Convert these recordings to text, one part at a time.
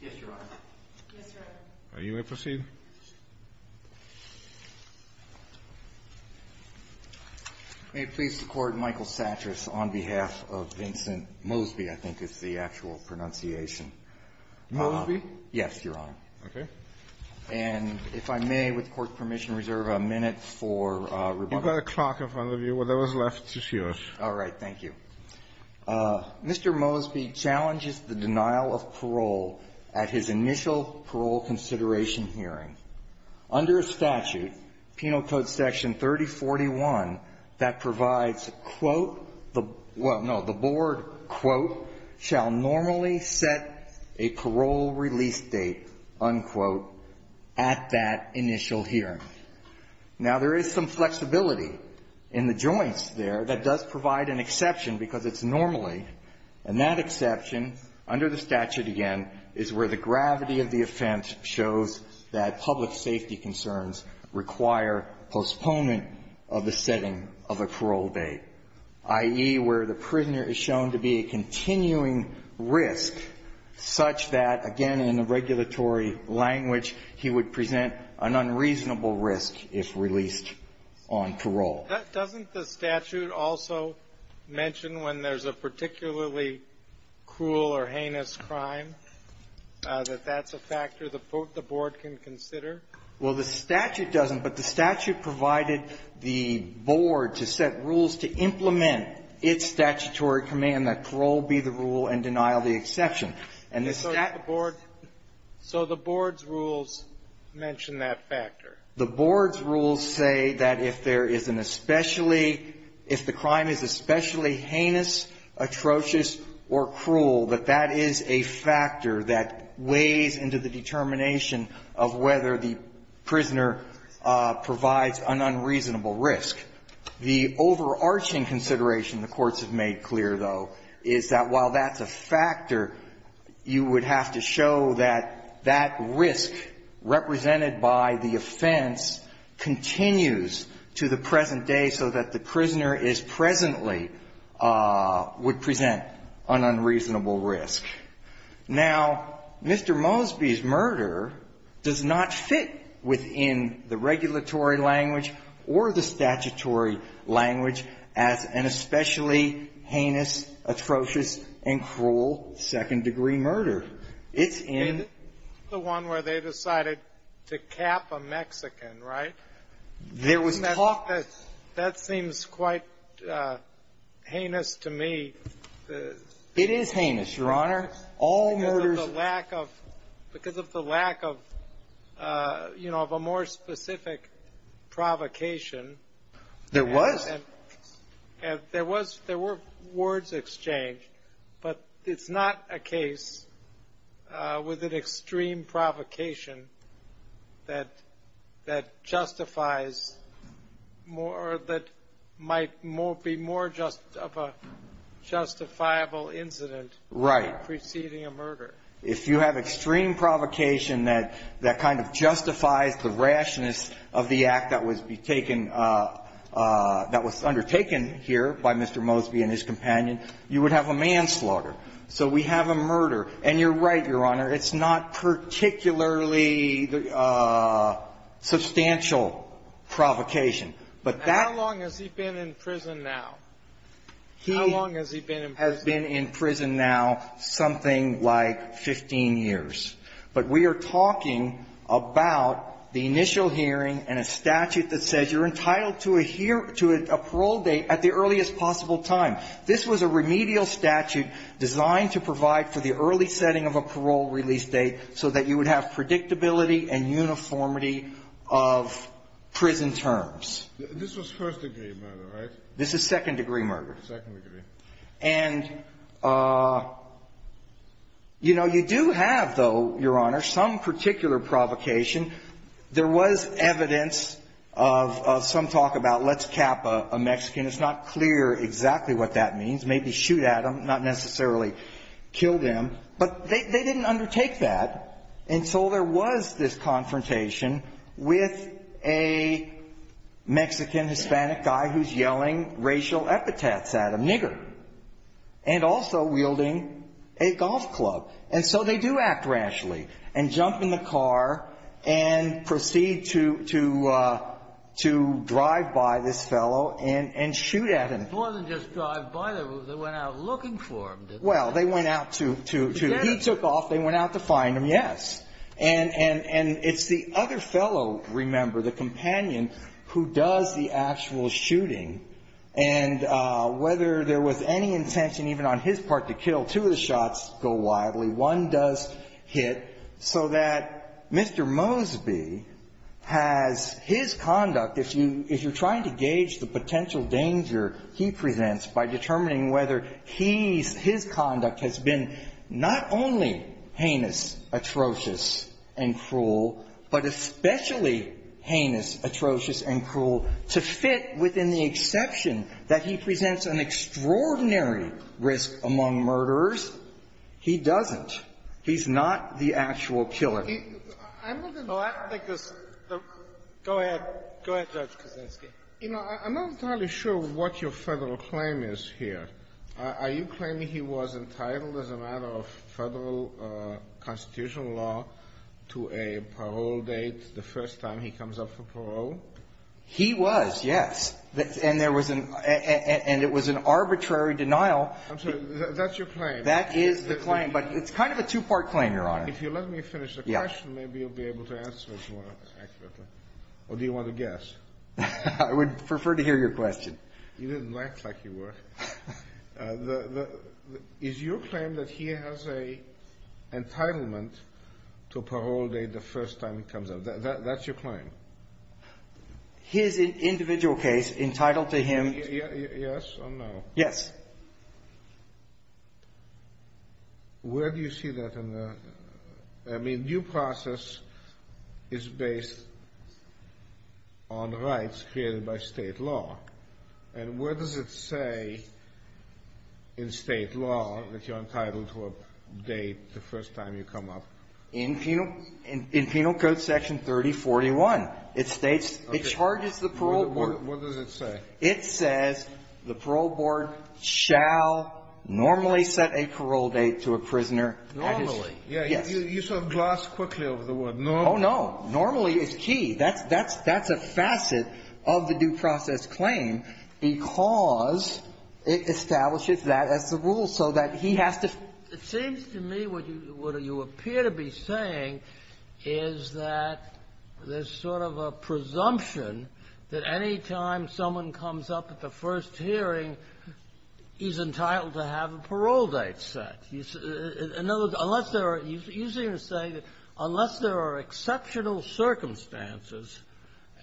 Yes, Your Honor. Yes, Your Honor. You may proceed. May it please the Court, Michael Satras on behalf of Vincent Mosby, I think is the actual pronunciation. Mosby? Yes, Your Honor. Okay. And if I may, with Court permission, reserve a minute for rebuttal. You've got a clock in front of you. Whatever's left is yours. All right. Thank you. Mr. Mosby challenges the denial of parole at his initial parole consideration hearing. Under statute, Penal Code Section 3041, that provides, quote, well, no, the board, quote, shall normally set a parole release date, unquote, at that initial hearing. Now, there is some flexibility in the joints there that does provide an exception, because it's normally, and that exception, under the statute again, is where the gravity of the offense shows that public safety concerns require postponement of the setting of a parole date, i.e., where the prisoner is shown to be a continuing risk such that, again, in the regulatory language, he would present an unreasonable risk if released on parole. Doesn't the statute also mention when there's a particularly cruel or heinous crime that that's a factor the board can consider? Well, the statute doesn't, but the statute provided the board to set rules to implement its statutory command that parole be the rule and denial the exception. And the statute So the board's rules mention that factor. The board's rules say that if there is an especially – if the crime is especially heinous, atrocious, or cruel, that that is a factor that weighs into the determination of whether the prisoner provides an unreasonable risk. The overarching consideration the courts have made clear, though, is that while that's a factor, you would have to show that that risk represented by the offense continues to the present day so that the prisoner is presently – would present an unreasonable risk. Now, Mr. Mosby's murder does not fit within the regulatory language or the statutory language as an especially heinous, atrocious, and cruel second-degree murder. It's in the one where they decided to cap a Mexican, right? There was talk that – That seems quite heinous to me. It is heinous, Your Honor. All murders – Because of the lack of, you know, of a more specific provocation. There was. And there was – there were words exchanged, but it's not a case with an extreme provocation that – that justifies more – that might be more just of a justifiable incident preceding a murder. If you have extreme provocation that – that kind of justifies the rashness of the act that was taken – that was undertaken here by Mr. Mosby and his companion, you would have a manslaughter. So we have a murder. And you're right, Your Honor, it's not particularly substantial provocation. But that – How long has he been in prison now? He – How long has he been in prison? Has been in prison now something like 15 years. But we are talking about the initial hearing and a statute that says you're entitled to a parole date at the earliest possible time. This was a remedial statute designed to provide for the early setting of a parole release date so that you would have predictability and uniformity of prison terms. This was first-degree murder, right? This is second-degree murder. Second-degree. And, you know, you do have, though, Your Honor, some particular provocation. There was evidence of some talk about let's cap a Mexican. It's not clear exactly what that means. Maybe shoot at them, not necessarily kill them. But they – they didn't undertake that until there was this confrontation with a Mexican-Hispanic guy who's yelling racial epithets at him, nigger, and also wielding a golf club. And so they do act rashly and jump in the car and proceed to – to drive by this fellow and – and shoot at him. It wasn't just drive by them. They went out looking for him, didn't they? Well, they went out to – to – he took off. They went out to find him, yes. And – and – and it's the other fellow, remember, the companion, who does the actual shooting. And whether there was any intention even on his part to kill, two of the shots go wildly. One does hit so that Mr. Mosby has his conduct, if you – if you're trying to gauge the potential danger he presents by determining whether he's – his murder is atrocious and cruel, but especially heinous, atrocious, and cruel, to fit within the exception that he presents an extraordinary risk among murderers. He doesn't. He's not the actual killer. He – I'm not going to – Well, I think there's – go ahead. Go ahead, Judge Kaczynski. You know, I'm not entirely sure what your Federal claim is here. Are – are you claiming he was entitled as a matter of Federal constitutional law to a parole date the first time he comes up for parole? He was, yes. And there was an – and it was an arbitrary denial. I'm sorry. That's your claim. That is the claim. But it's kind of a two-part claim, Your Honor. If you let me finish the question, maybe you'll be able to answer it more accurately. Or do you want to guess? I would prefer to hear your question. You didn't act like you were. Is your claim that he has an entitlement to a parole date the first time he comes up? That's your claim? His individual case entitled to him – Yes or no? Yes. Where do you see that in the – I mean, due process is based on rights created by State law. And where does it say in State law that you're entitled to a date the first time you come up? In Penal – in Penal Code Section 3041. It states – it charges the parole board. What does it say? It says the parole board shall normally set a parole date to a prisoner at his – Normally. Yes. Yeah. You sort of glossed quickly over the word normally. Oh, no. Normally is key. That's – that's a facet of the due process claim, because it establishes that as the rule, so that he has to – It seems to me what you – what you appear to be saying is that there's sort of a presumption that any time someone comes up at the first hearing, he's entitled to have a parole date set. In other words, unless there are – you seem to say that unless there are exceptional circumstances,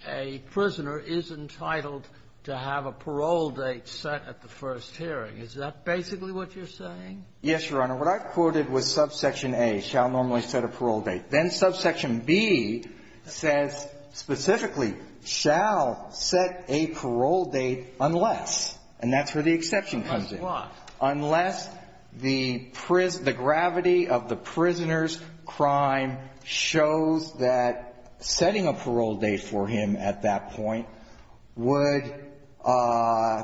a prisoner is entitled to have a parole date set at the first hearing. Is that basically what you're saying? Yes, Your Honor. What I quoted was subsection A, shall normally set a parole date. Then subsection B says specifically, shall set a parole date unless – and that's where the exception comes in. Unless what? Unless the gravity of the prisoner's crime shows that setting a parole date for him at that point would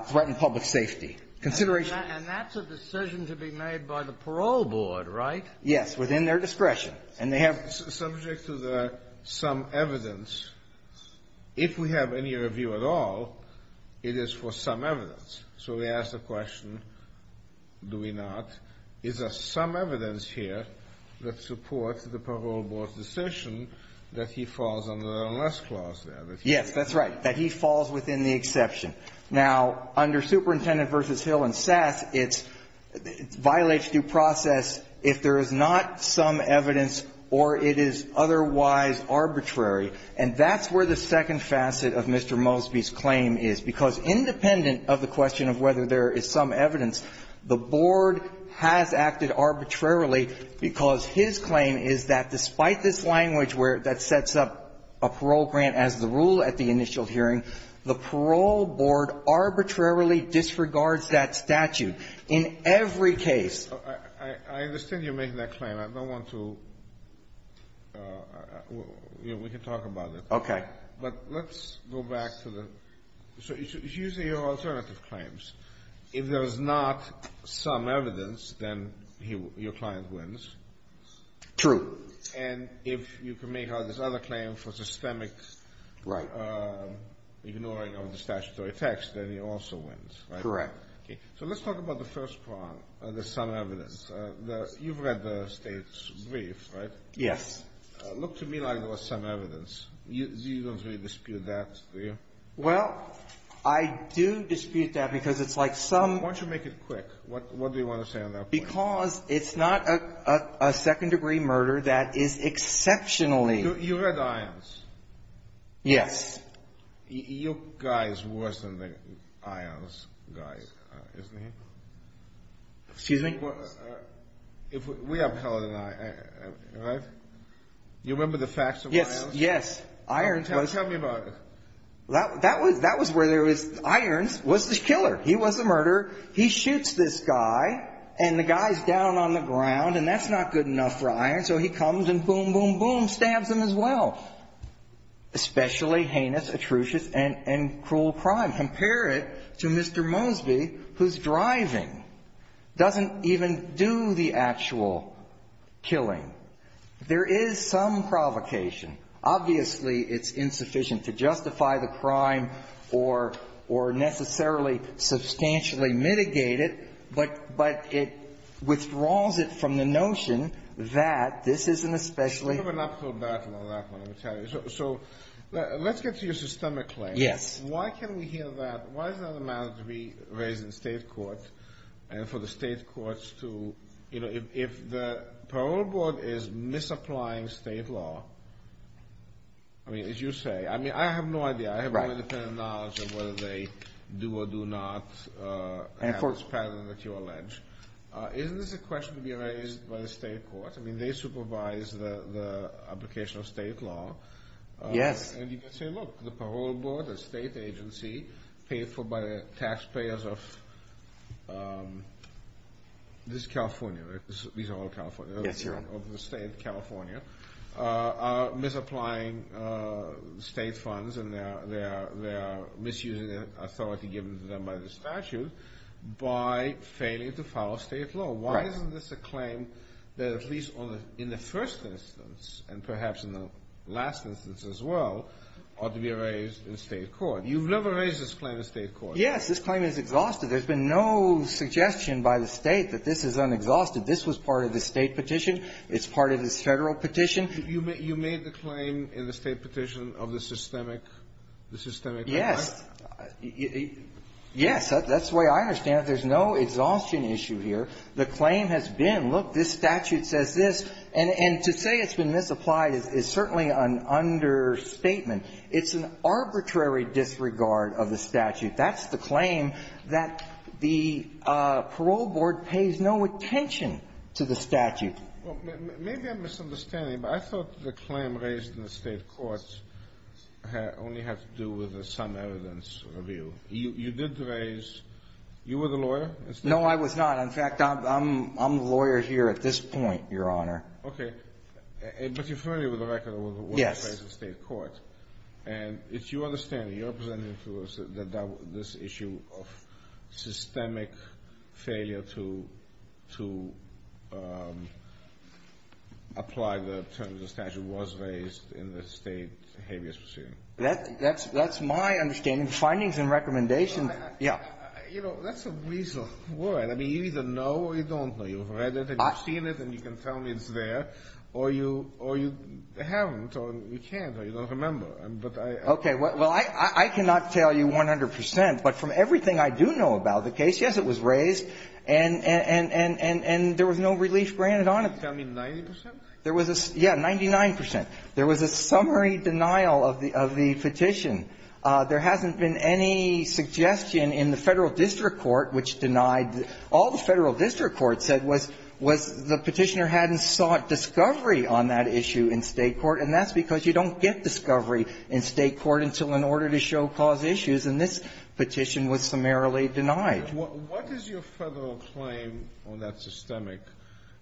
threaten public safety. And that's a decision to be made by the parole board, right? Yes. Within their discretion. And they have – Subject to the some evidence, if we have any review at all, it is for some evidence. So we ask the question, do we not? Is there some evidence here that supports the parole board's decision that he falls under the unless clause there? Yes, that's right. That he falls within the exception. Now, under Superintendent v. Hill and Sass, it's – it violates due process if there is not some evidence or it is otherwise arbitrary. And that's where the second facet of Mr. Mosby's claim is. Because independent of the question of whether there is some evidence, the board has acted arbitrarily because his claim is that despite this language where – that sets up a parole grant as the rule at the initial hearing, the parole board arbitrarily disregards that statute in every case. I understand you're making that claim. I don't want to – we can talk about it. Okay. But let's go back to the – so here's your alternative claims. If there is not some evidence, then your client wins. True. And if you can make out this other claim for systemic ignoring of the statutory text, then he also wins, right? Correct. So let's talk about the first part, the some evidence. You've read the State's brief, right? Yes. Look to me like there was some evidence. You don't really dispute that, do you? Well, I do dispute that because it's like some – Why don't you make it quick? What do you want to say on that point? Because it's not a second-degree murder that is exceptionally – You read Ions? Yes. Your guy is worse than the Ions guy, isn't he? Excuse me? We have a colleague and I, right? You remember the facts of Ions? Yes. Ions was – Tell me about it. That was where there was – Ions was the killer. He was the murderer. He shoots this guy, and the guy's down on the ground, and that's not good enough for Ions, so he comes and boom, boom, boom, stabs him as well. Especially heinous, atrocious, and cruel crime. Compare it to Mr. Mosby, who's driving. Doesn't even do the actual killing. There is some provocation. Obviously, it's insufficient to justify the crime or necessarily substantially mitigate it, but it withdraws it from the notion that this is an especially – You have an up-throw battle on that one, I'm telling you. So let's get to your systemic claim. Yes. Why can we hear that? Why is it not a matter to be raised in State court and for the State courts to – if the parole board is misapplying State law, I mean, as you say – I mean, I have no idea. I have no independent knowledge of whether they do or do not have this pattern that you allege. Isn't this a question to be raised by the State court? I mean, they supervise the application of State law. Yes. And you can say, look, the parole board, the State agency, paid for by the taxpayers of – this is California, right? These are all California. Yes, Your Honor. Of the State of California, are misapplying State funds and they are misusing the authority given to them by the statute by failing to follow State law. Right. Why isn't this a claim that at least in the first instance and perhaps in the last instance as well ought to be raised in State court? You've never raised this claim in State court. Yes. This claim is exhausted. There's been no suggestion by the State that this is unexhausted. This was part of the State petition. It's part of this Federal petition. You made the claim in the State petition of the systemic – the systemic misapplying? Yes. Yes, that's the way I understand it. There's no exhaustion issue here. The claim has been, look, this statute says this. And to say it's been misapplied is certainly an understatement. It's an arbitrary disregard of the statute. That's the claim that the parole board pays no attention to the statute. Well, maybe I'm misunderstanding, but I thought the claim raised in the State courts only had to do with some evidence review. You did raise – you were the lawyer? No, I was not. In fact, I'm the lawyer here at this point, Your Honor. Okay. Yes. And it's your understanding, you're representing to us that this issue of systemic failure to apply the terms of the statute was raised in the State habeas procedure? That's my understanding. Findings and recommendations – yeah. You know, that's a weasel word. I mean, you either know or you don't know. You've read it and you've seen it and you can tell me it's there. Or you haven't or you can't or you don't remember. But I – Okay. Well, I cannot tell you 100 percent, but from everything I do know about the case, yes, it was raised and there was no relief granted on it. Tell me 90 percent? There was a – yeah, 99 percent. There was a summary denial of the petition. There hasn't been any suggestion in the Federal district court which denied – all the Federal district court said was the petitioner hadn't sought discovery on that issue in State court. And that's because you don't get discovery in State court until in order to show cause issues. And this petition was summarily denied. What is your Federal claim on that systemic –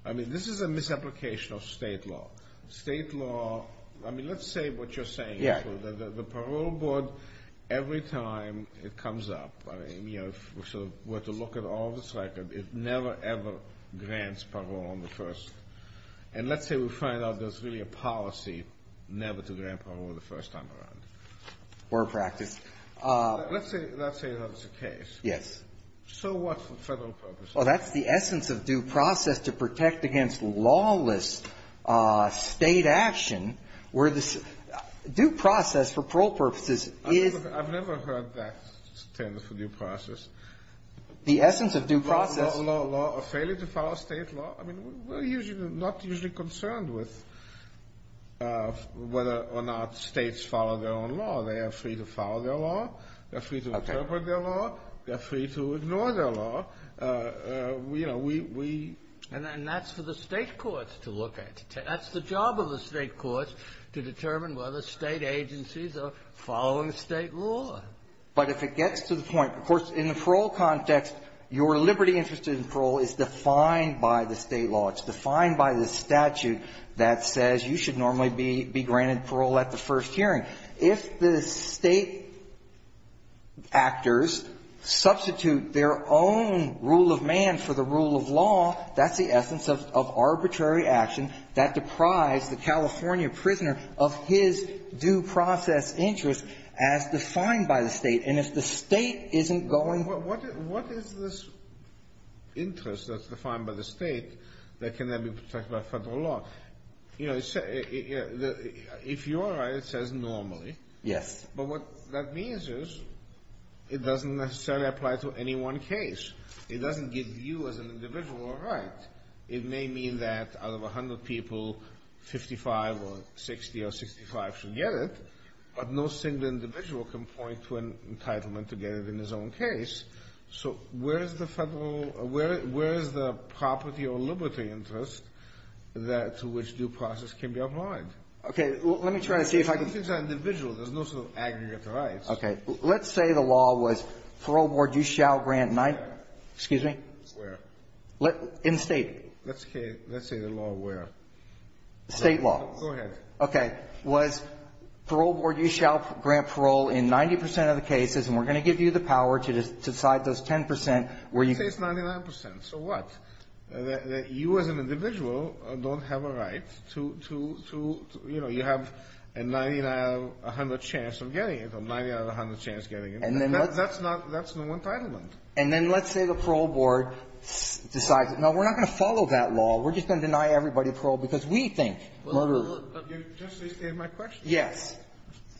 I mean, this is a misapplication of State law. State law – I mean, let's say what you're saying. Yeah. The parole board, every time it comes up – I mean, you know, if we were to look at it, for all of its record, it never, ever grants parole on the first – and let's say we find out there's really a policy never to grant parole the first time around. Or practice. Let's say – let's say that's the case. Yes. So what's the Federal purpose? Well, that's the essence of due process, to protect against lawless State action where the – due process for parole purposes is – I've never heard that term for due process. The essence of due process – Law – a failure to follow State law? I mean, we're usually not concerned with whether or not States follow their own law. They are free to follow their law. They're free to interpret their law. They're free to ignore their law. We, you know, we – And that's for the State courts to look at. That's the job of the State courts, to determine whether State agencies are following State law. But if it gets to the point – of course, in the parole context, your liberty interest in parole is defined by the State law. It's defined by the statute that says you should normally be granted parole at the first hearing. If the State actors substitute their own rule of man for the rule of law, that's the essence of arbitrary action that deprives the California prisoner of his due process interest as defined by the State. And if the State isn't going – Well, what is this interest that's defined by the State that can then be protected by Federal law? You know, if you're right, it says normally. Yes. But what that means is it doesn't necessarily apply to any one case. It doesn't give you as an individual a right. It may mean that out of 100 people, 55 or 60 or 65 should get it, but no single individual can point to an entitlement to get it in his own case. So where is the Federal – where is the property or liberty interest that – to which due process can be applied? Okay. Well, let me try to see if I can – These things are individual. There's no sort of aggregate rights. Okay. Let's say the law was parole board, you shall grant nine – excuse me. Where? In the State. Let's say the law where? State law. Go ahead. Okay. Was parole board, you shall grant parole in 90 percent of the cases, and we're going to give you the power to decide those 10 percent where you can – Let's say it's 99 percent. So what? You as an individual don't have a right to – you know, you have a 99 out of 100 chance of getting it or a 99 out of 100 chance of getting it. That's not – that's no entitlement. And then let's say the parole board decides, no, we're not going to follow that law. We're just going to deny everybody parole because we think murder – Well, you're just restating my question. Yes.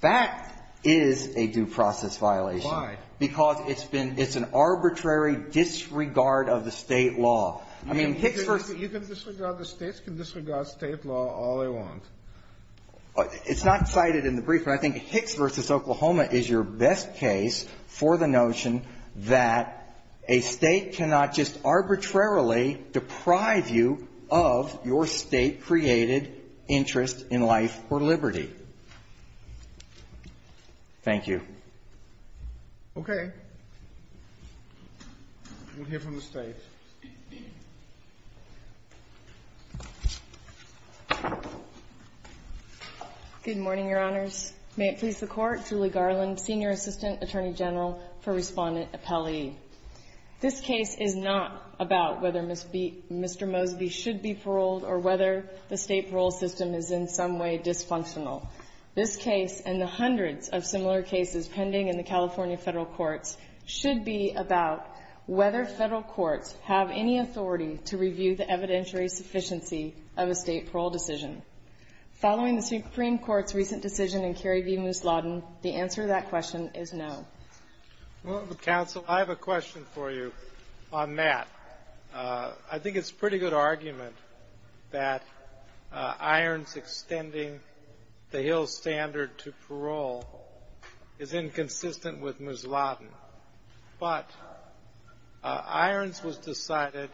That is a due process violation. Why? Because it's been – it's an arbitrary disregard of the State law. I mean, Hicks v. – You can disregard the States, can disregard State law all they want. It's not cited in the brief, but I think Hicks v. Oklahoma is your best case for the notion that a State cannot just arbitrarily deprive you of your State-created interest in life or liberty. Thank you. Okay. We'll hear from the State. Good morning, Your Honors. May it please the Court. Julie Garland, Senior Assistant Attorney General for Respondent Appellee. This case is not about whether Mr. Mosby should be paroled or whether the State parole system is in some way dysfunctional. This case and the hundreds of similar cases pending in the California federal courts should be about whether federal courts have any authority to review the evidentiary sufficiency of a State parole decision. Following the Supreme Court's recent decision in Kerry v. Mousladen, the answer to that question is no. Counsel, I have a question for you on that. I think it's a pretty good argument that Irons extending the Hill standard to parole is inconsistent with Mousladen. But Irons was decided,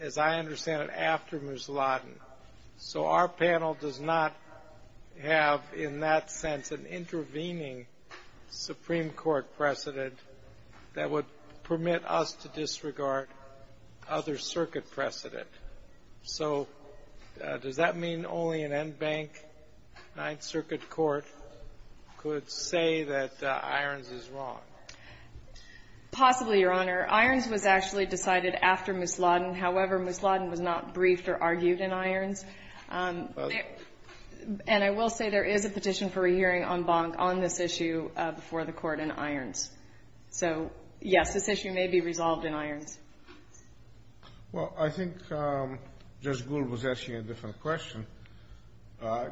as I understand it, after Mousladen. So our panel does not have, in that sense, an intervening Supreme Court precedent that would permit us to disregard other circuit precedent. So does that mean only an en banc Ninth Circuit court could say that Irons is wrong? Possibly, Your Honor. Irons was actually decided after Mousladen. However, Mousladen was not briefed or argued in Irons. And I will say there is a petition for a hearing en banc on this issue before the Court in Irons. So, yes, this issue may be resolved in Irons. Well, I think Judge Gould was asking a different question.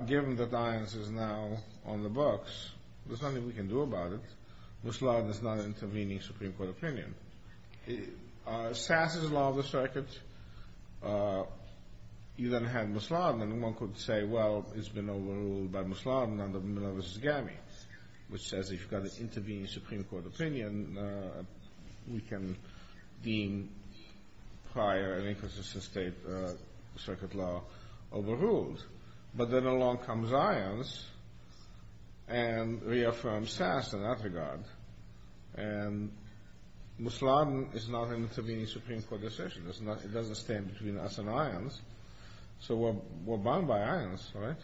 Given that Irons is now on the books, there's nothing we can do about it. Mousladen is not intervening Supreme Court opinion. Sass's Law of the Circuit, you then have Mousladen. And one could say, well, it's been overruled by Mousladen under Milosevic's GAMI, which says if you've got an intervening Supreme Court opinion, we can deem prior and inconsistent state circuit law overruled. But then along comes Irons and reaffirms Sass in that regard. And Mousladen is not an intervening Supreme Court decision. It doesn't stand between us and Irons. So we're bound by Irons, right?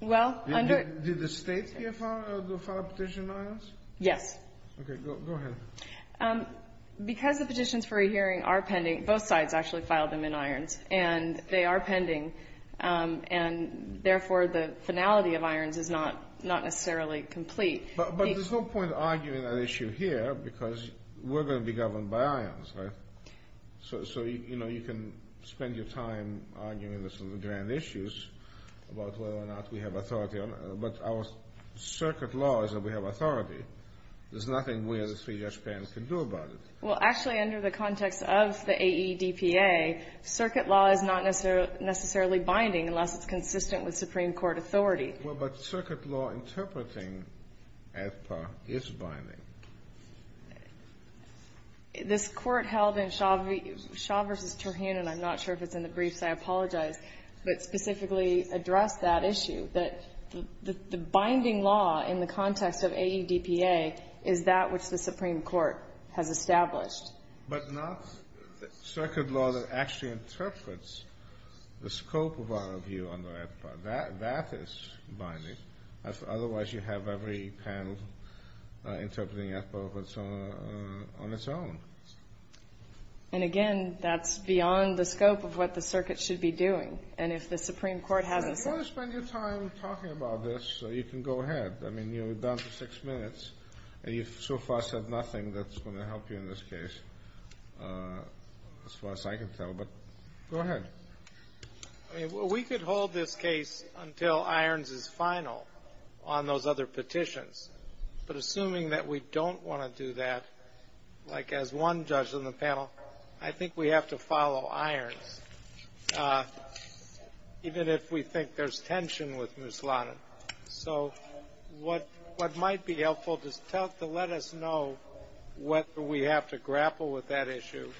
Well, under — Did the State here file a petition in Irons? Yes. Okay. Go ahead. Because the petitions for a hearing are pending, both sides actually filed them in Irons. And they are pending. And, therefore, the finality of Irons is not necessarily complete. But there's no point arguing that issue here because we're going to be governed by Irons, right? So, you know, you can spend your time arguing this on the grand issues about whether or not we have authority on it. But our circuit law is that we have authority. There's nothing we as three-judge panel can do about it. Well, actually, under the context of the AEDPA, circuit law is not necessarily binding unless it's consistent with Supreme Court authority. Well, but circuit law interpreting AEDPA is binding. This Court held in Shaw v. Turhan, and I'm not sure if it's in the briefs, I apologize, but specifically addressed that issue, that the binding law in the context of AEDPA is that which the Supreme Court has established. But not circuit law that actually interprets the scope of our view under AEDPA. That is binding. Otherwise, you have every panel interpreting AEDPA on its own. And, again, that's beyond the scope of what the circuit should be doing. And if the Supreme Court hasn't said that. If you want to spend your time talking about this, you can go ahead. I mean, you're down to six minutes. And you've so far said nothing that's going to help you in this case, as far as I can tell. But go ahead. I mean, we could hold this case until Irons is final on those other petitions. But assuming that we don't want to do that, like as one judge on the panel, I think we have to follow Irons, even if we think there's tension with Muslanin. So what might be helpful just to let us know whether we have to grapple with that issue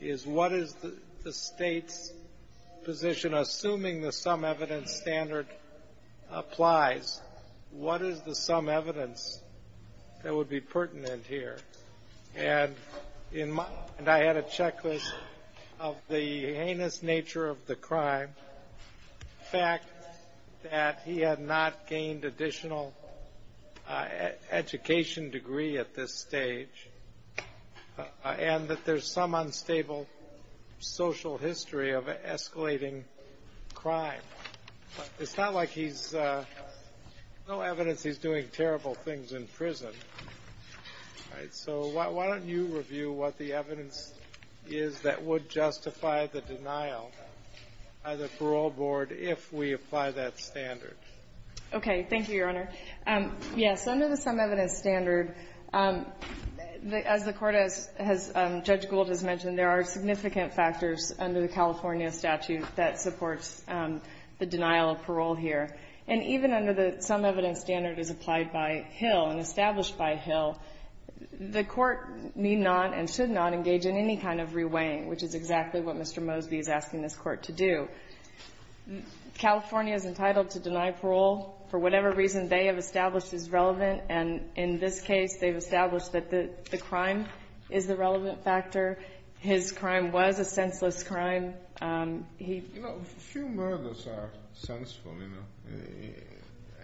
is what is the state's position, assuming the sum evidence standard applies. What is the sum evidence that would be pertinent here? And I had a checklist of the heinous nature of the crime, the fact that he had not gained additional education degree at this stage, and that there's some unstable social history of escalating crime. It's not like he's no evidence he's doing terrible things in prison. All right. So why don't you review what the evidence is that would justify the denial by the parole board if we apply that standard. Okay. Thank you, Your Honor. Yes. Under the sum evidence standard, as the Court has, Judge Gould has mentioned, there are significant factors under the California statute that supports the denial of parole here. And even under the sum evidence standard as applied by Hill and established by Hill, the Court need not and should not engage in any kind of reweighing, which is exactly what Mr. Mosby is asking this Court to do. California is entitled to deny parole for whatever reason they have established is relevant. And in this case, they've established that the crime is the relevant factor. His crime was a senseless crime. You know, few murders are senseful, you know.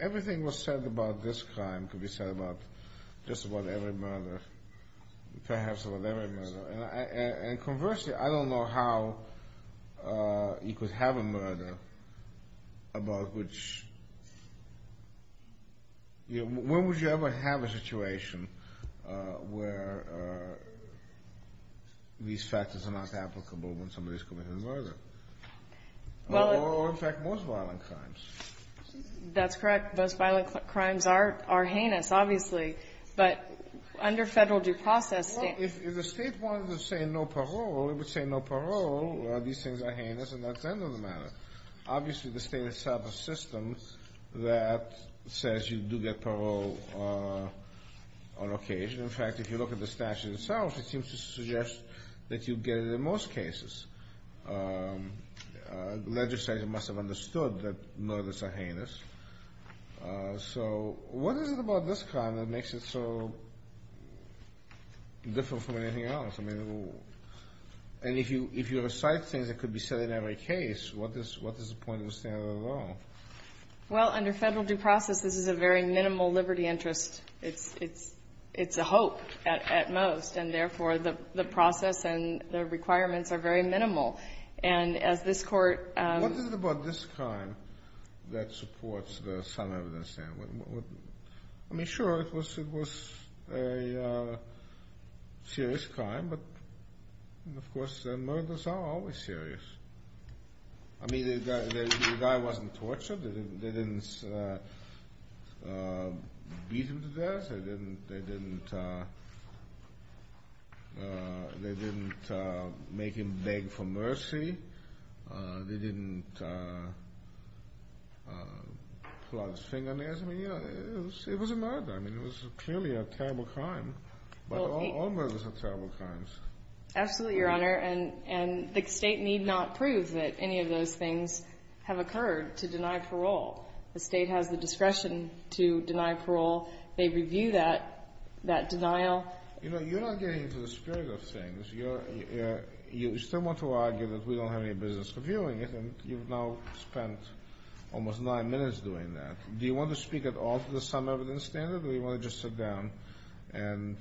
Everything was said about this crime could be said about just about every murder, perhaps about every murder. And conversely, I don't know how you could have a murder about which, you know, when would you ever have a situation where these factors are not applicable when somebody's committed a murder? Or, in fact, most violent crimes. That's correct. Most violent crimes are heinous, obviously. But under federal due process standards. Well, if the State wanted to say no parole, it would say no parole. These things are heinous, and that's the end of the matter. Obviously, the State itself has systems that says you do get parole on occasion. In fact, if you look at the statute itself, it seems to suggest that you get it in most cases. The legislature must have understood that murders are heinous. So what is it about this crime that makes it so different from anything else? I mean, if you recite things that could be said in every case, what is the point of the standard at all? Well, under federal due process, this is a very minimal liberty interest. It's a hope at most. And, therefore, the process and the requirements are very minimal. And as this Court ---- What is it about this crime that supports some evidence? I mean, sure, it was a serious crime. But, of course, murders are always serious. I mean, the guy wasn't tortured. They didn't beat him to death. They didn't make him beg for mercy. They didn't plug his fingernails. I mean, you know, it was a murder. I mean, it was clearly a terrible crime. But all murders are terrible crimes. Absolutely, Your Honor. And the State need not prove that any of those things have occurred to deny parole. The State has the discretion to deny parole. They review that denial. You know, you're not getting into the spirit of things. You still want to argue that we don't have any business reviewing it, and you've now spent almost nine minutes doing that. Do you want to speak at all to the sum evidence standard, or do you want to just sit down and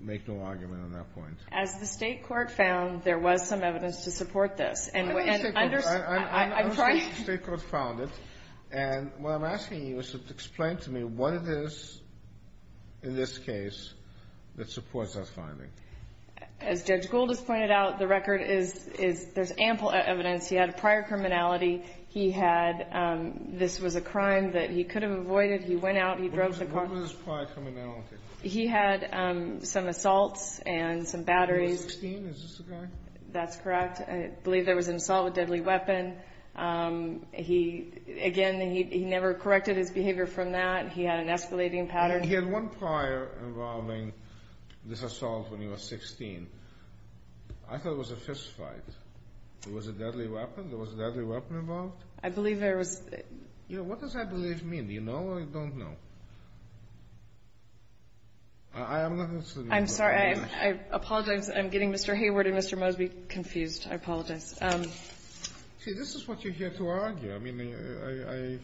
make no argument on that point? As the State court found, there was some evidence to support this. I understand the State court found it. And what I'm asking you is to explain to me what it is in this case that supports that finding. As Judge Gould has pointed out, the record is there's ample evidence. He had a prior criminality. He had this was a crime that he could have avoided. He went out. He drove the car. What was his prior criminality? He had some assaults and some batteries. He was 16. Is this the guy? That's correct. I believe there was an assault with a deadly weapon. He, again, he never corrected his behavior from that. He had an escalating pattern. He had one prior involving this assault when he was 16. I thought it was a fist fight. There was a deadly weapon? There was a deadly weapon involved? I believe there was. Yeah. What does I believe mean? Do you know, or you don't know? I'm not listening. I apologize. I'm getting Mr. Hayward and Mr. Mosby confused. I apologize. See, this is what you're here to argue. I mean, I...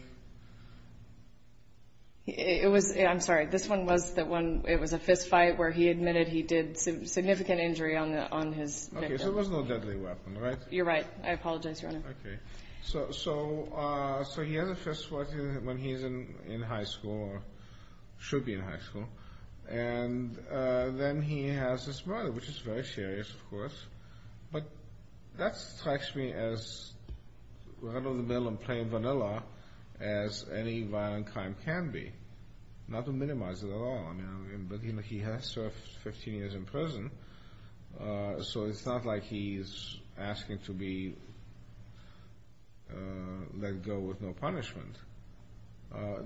It was, I'm sorry. This one was the one, it was a fist fight where he admitted he did significant injury on his victim. Okay, so there was no deadly weapon, right? You're right. I apologize, Your Honor. Okay. So he has a fist fight when he's in high school or should be in high school. And then he has this murder, which is very serious, of course. But that strikes me as right in the middle of plain vanilla as any violent crime can be, not to minimize it at all. I mean, he has served 15 years in prison, so it's not like he's asking to be let go with no punishment.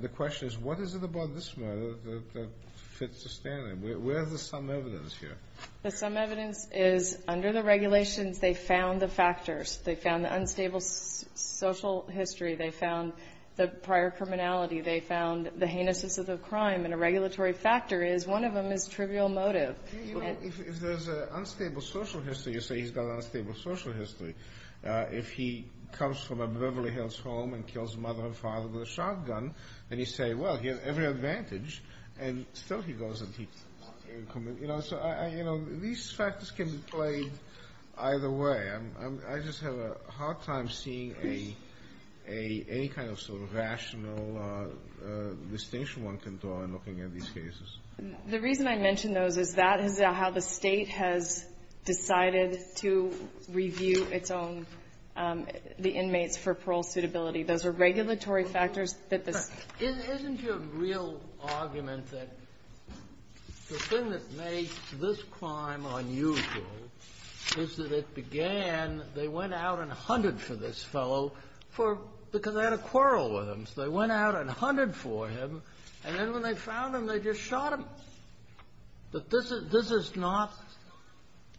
The question is, what is it about this murder that fits the standard? Where is the sum evidence here? The sum evidence is under the regulations, they found the factors. They found the unstable social history. They found the prior criminality. They found the heinousness of the crime. And a regulatory factor is one of them is trivial motive. If there's an unstable social history, you say he's got an unstable social history. If he comes from a Beverly Hills home and kills mother and father with a shotgun, then you say, well, he has every advantage. And still he goes and he... You know, these factors can be played either way. I just have a hard time seeing any kind of sort of rational distinction one can draw in looking at these cases. The reason I mention those is that is how the State has decided to review its own, the inmates for parole suitability. Those are regulatory factors that this... Isn't your real argument that the thing that makes this crime unusual is that it began, they went out and hunted for this fellow for... Because they had a quarrel with him. So they went out and hunted for him. And then when they found him, they just shot him. But this is not...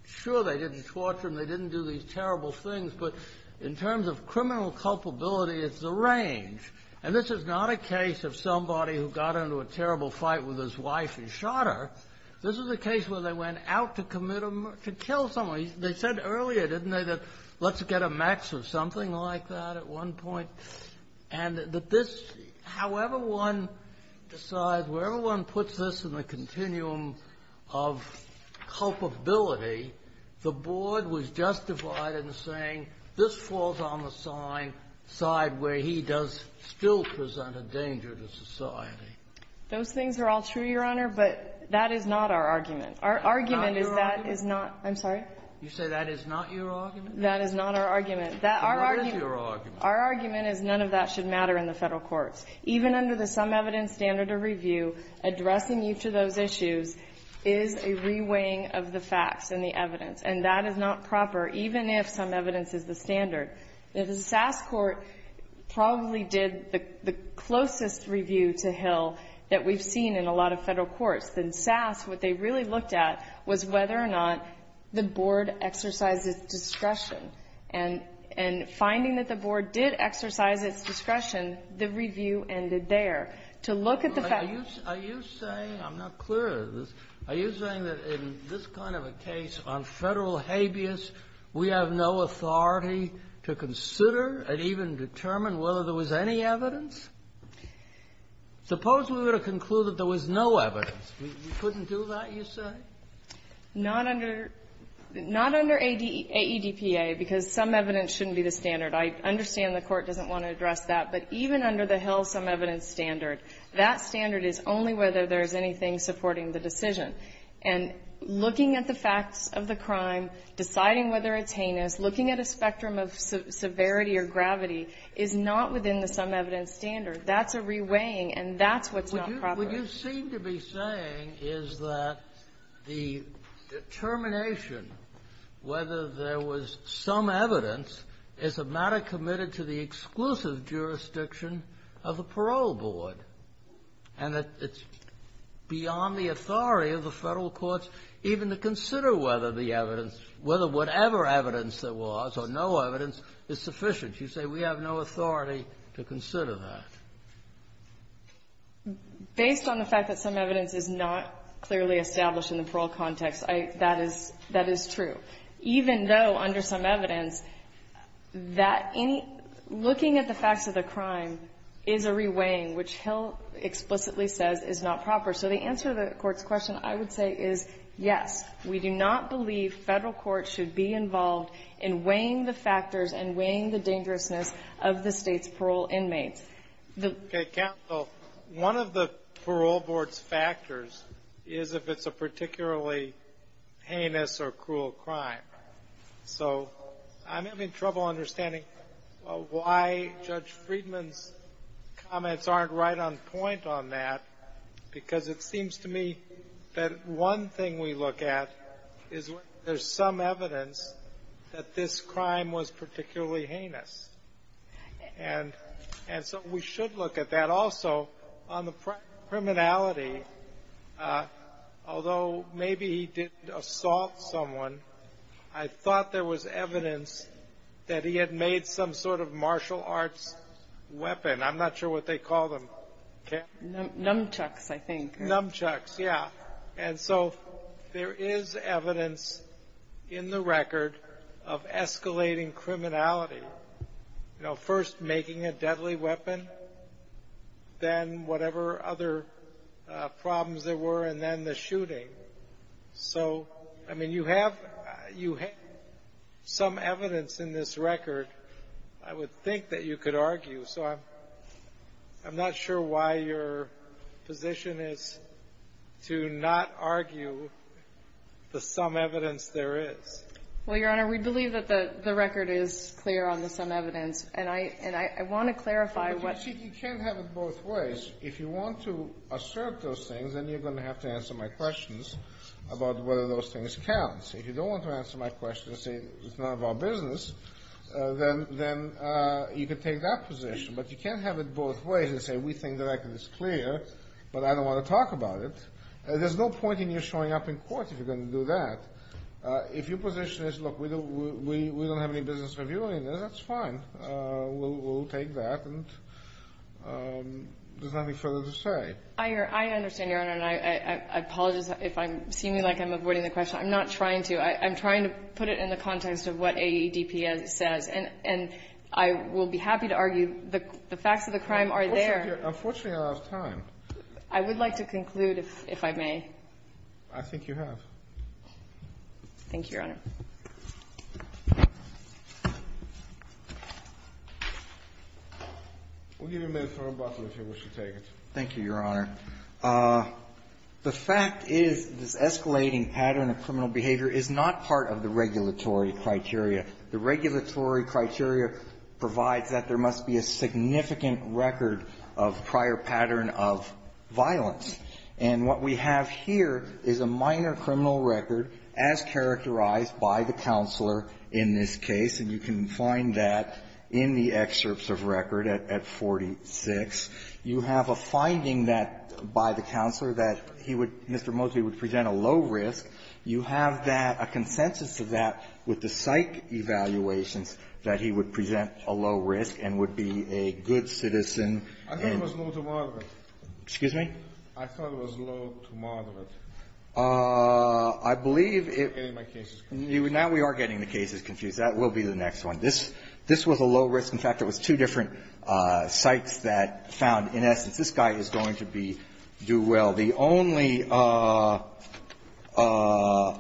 Sure, they didn't torture him. They didn't do these terrible things. But in terms of criminal culpability, it's a range. And this is not a case of somebody who got into a terrible fight with his wife and shot her. This is a case where they went out to commit a... To kill someone. They said earlier, didn't they, that let's get a max of something like that at one point. And that this... However one decides, wherever one puts this in the continuum of culpability, the board was justified in saying this falls on the side where he does still present a danger to society. Those things are all true, Your Honor, but that is not our argument. Our argument is that is not... I'm sorry? You say that is not your argument? That is not our argument. Then what is your argument? Our argument is none of that should matter in the Federal courts. Even under the Some Evidence Standard of Review, addressing each of those issues is a reweighing of the facts and the evidence. And that is not proper, even if Some Evidence is the standard. The Sass Court probably did the closest review to Hill that we've seen in a lot of Federal courts. In Sass, what they really looked at was whether or not the board exercised its discretion. And finding that the board did exercise its discretion, the review ended there. To look at the fact... I'm not clear on this. Are you saying that in this kind of a case on Federal habeas, we have no authority to consider and even determine whether there was any evidence? Suppose we were to conclude that there was no evidence. We couldn't do that, you say? Not under AEDPA, because Some Evidence shouldn't be the standard. I understand the Court doesn't want to address that, but even under the Hill Some Evidence doesn't have anything supporting the decision. And looking at the facts of the crime, deciding whether it's heinous, looking at a spectrum of severity or gravity is not within the Some Evidence standard. That's a reweighing, and that's what's not proper. What you seem to be saying is that the determination whether there was some evidence is a matter committed to the exclusive jurisdiction of the parole board, and that it's beyond the authority of the Federal courts even to consider whether the evidence or whatever evidence there was or no evidence is sufficient. You say we have no authority to consider that. Based on the fact that Some Evidence is not clearly established in the parole context, that is true, even though under Some Evidence that any looking at the facts of the crime is a reweighing, which Hill explicitly says is not proper. So the answer to the Court's question, I would say, is, yes, we do not believe Federal courts should be involved in weighing the factors and weighing the dangerousness of the State's parole inmates. Okay. Counsel, one of the parole board's factors is if it's a particularly heinous or cruel crime. So I'm having trouble understanding why Judge Friedman's comments aren't right on point on that, because it seems to me that one thing we look at is there's some evidence that this crime was particularly heinous. And so we should look at that also on the criminality, although maybe he didn't assault someone. I thought there was evidence that he had made some sort of martial arts weapon. I'm not sure what they call them. Nunchucks, I think. Nunchucks, yeah. And so there is evidence in the record of escalating criminality, first making a deadly weapon, then whatever other problems there were, and then the shooting. So, I mean, you have some evidence in this record I would think that you could argue. So I'm not sure why your position is to not argue the some evidence there is. Well, Your Honor, we believe that the record is clear on the some evidence. And I want to clarify what you're saying. But you can't have it both ways. If you want to assert those things, then you're going to have to answer my questions about whether those things count. So if you don't want to answer my question and say it's none of our business, then you could take that position. But you can't have it both ways and say we think the record is clear, but I don't want to talk about it. There's no point in you showing up in court if you're going to do that. If your position is, look, we don't have any business reviewing it, that's fine. We'll take that. And there's nothing further to say. I understand, Your Honor. And I apologize if I'm seeming like I'm avoiding the question. I'm not trying to. I'm trying to put it in the context of what AEDP says. And I will be happy to argue the facts of the crime are there. Unfortunately, I don't have time. I would like to conclude, if I may. I think you have. Thank you, Your Honor. We'll give you a minute for rebuttal, if you wish to take it. Thank you, Your Honor. The fact is this escalating pattern of criminal behavior is not part of the regulatory criteria. The regulatory criteria provides that there must be a significant record of prior pattern of violence. And what we have here is a minor criminal record as characterized by the counselor in this case. And you can find that in the excerpts of record at 46. You have a finding that, by the counselor, that he would, Mr. Mosby, would present a low risk. You have that, a consensus of that with the psych evaluations, that he would present a low risk and would be a good citizen. I thought it was low to moderate. Excuse me? I thought it was low to moderate. I believe it was. I'm getting my cases confused. Now we are getting the cases confused. That will be the next one. This was a low risk. In fact, there was two different sites that found, in essence, this guy is going to be due well. The only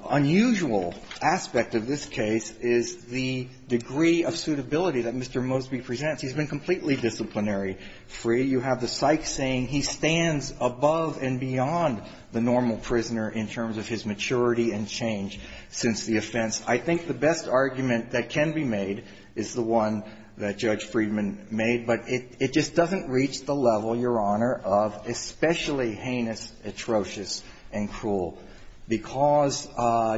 unusual aspect of this case is the degree of suitability that Mr. Mosby presents. He's been completely disciplinary-free. You have the psych saying he stands above and beyond the normal prisoner in terms of his maturity and change since the offense. I think the best argument that can be made is the one that Judge Friedman made. But it just doesn't reach the level, Your Honor, of especially heinous, atrocious, and cruel, because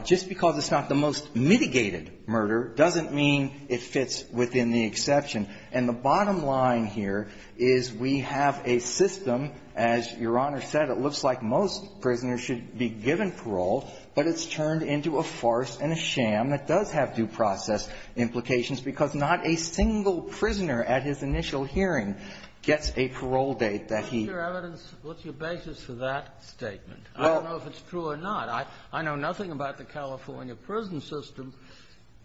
just because it's not the most mitigated murder doesn't mean it fits within the exception. And the bottom line here is we have a system. As Your Honor said, it looks like most prisoners should be given parole, but it's turned into a farce and a sham that does have due process implications because not a single prisoner at his initial hearing gets a parole date that he --- What's your evidence? What's your basis for that statement? I don't know if it's true or not. I know nothing about the California prison system,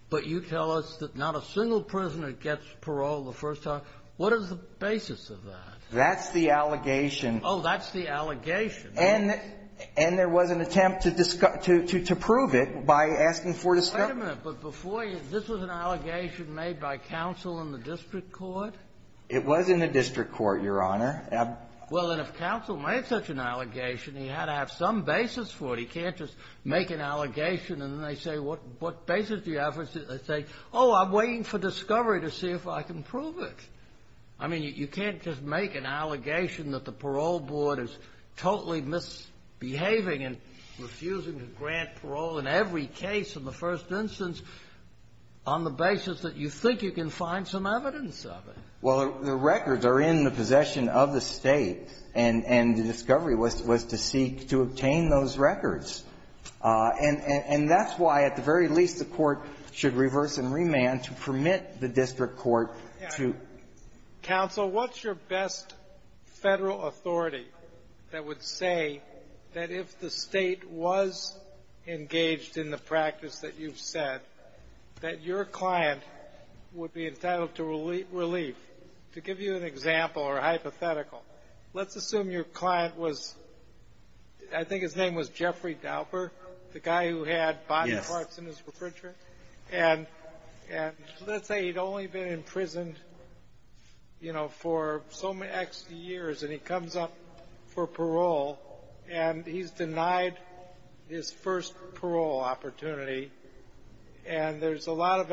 but you tell us that not a single prisoner gets parole the first time. What is the basis of that? That's the allegation. Oh, that's the allegation. And there was an attempt to prove it by asking for the stuff. Wait a minute. But before you -- this was an allegation made by counsel in the district court? It was in the district court, Your Honor. Well, then, if counsel made such an allegation, he had to have some basis for it. He can't just make an allegation, and then they say, what basis do you have? They say, oh, I'm waiting for discovery to see if I can prove it. I mean, you can't just make an allegation that the parole board is totally misbehaving and refusing to grant parole in every case in the first instance on the basis that you think you can find some evidence of it. Well, the records are in the possession of the State, and the discovery was to seek to obtain those records. And that's why, at the very least, the Court should reverse and remand to permit the district court to -- Counsel, what's your best Federal authority that would say that if the State was engaged in the practice that you've said, that your client would be entitled to relief? To give you an example or a hypothetical, let's assume your client was -- I think his name was Jeffrey Dauper, the guy who had body parts in his refrigerator. And let's say he'd only been imprisoned, you know, for so many years, and he comes up for parole, and he's denied his first parole opportunity, and there's a lot of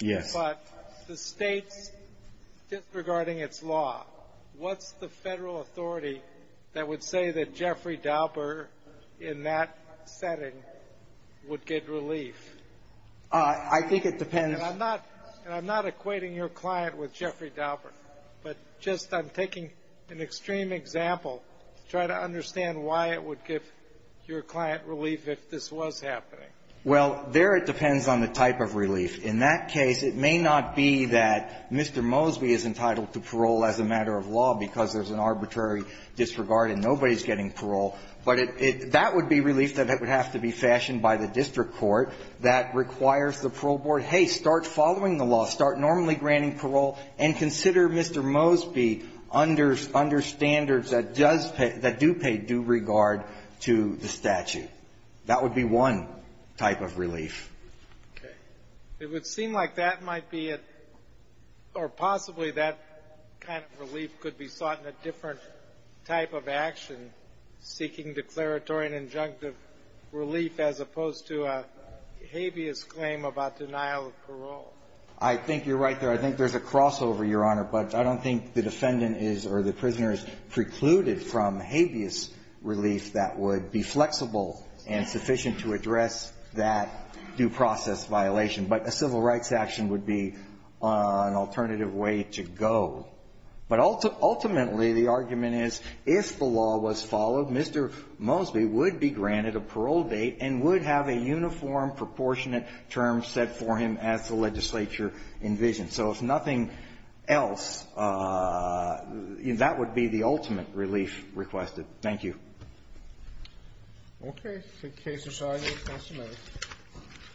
Yes. But the State's disregarding its law, what's the Federal authority that would say that Jeffrey Dauper in that setting would get relief? I think it depends. And I'm not equating your client with Jeffrey Dauper, but just I'm taking an extreme example to try to understand why it would give your client relief if this was happening. Well, there it depends on the type of relief. In that case, it may not be that Mr. Mosby is entitled to parole as a matter of law because there's an arbitrary disregard and nobody's getting parole, but that would be relief that would have to be fashioned by the district court that requires the parole board, hey, start following the law, start normally granting parole, and consider Mr. Mosby under standards that does pay – that do pay due regard to the statute. That would be one type of relief. Okay. It would seem like that might be a – or possibly that kind of relief could be sought in a different type of action, seeking declaratory and injunctive relief as opposed to a habeas claim about denial of parole. I think you're right there. I think there's a crossover, Your Honor, but I don't think the defendant is or the that would be flexible and sufficient to address that due process violation. But a civil rights action would be an alternative way to go. But ultimately, the argument is if the law was followed, Mr. Mosby would be granted a parole date and would have a uniform, proportionate term set for him as the legislature envisioned. So if nothing else, that would be the ultimate relief requested. Thank you. Okay. The case is signed. Thank you. Thank you.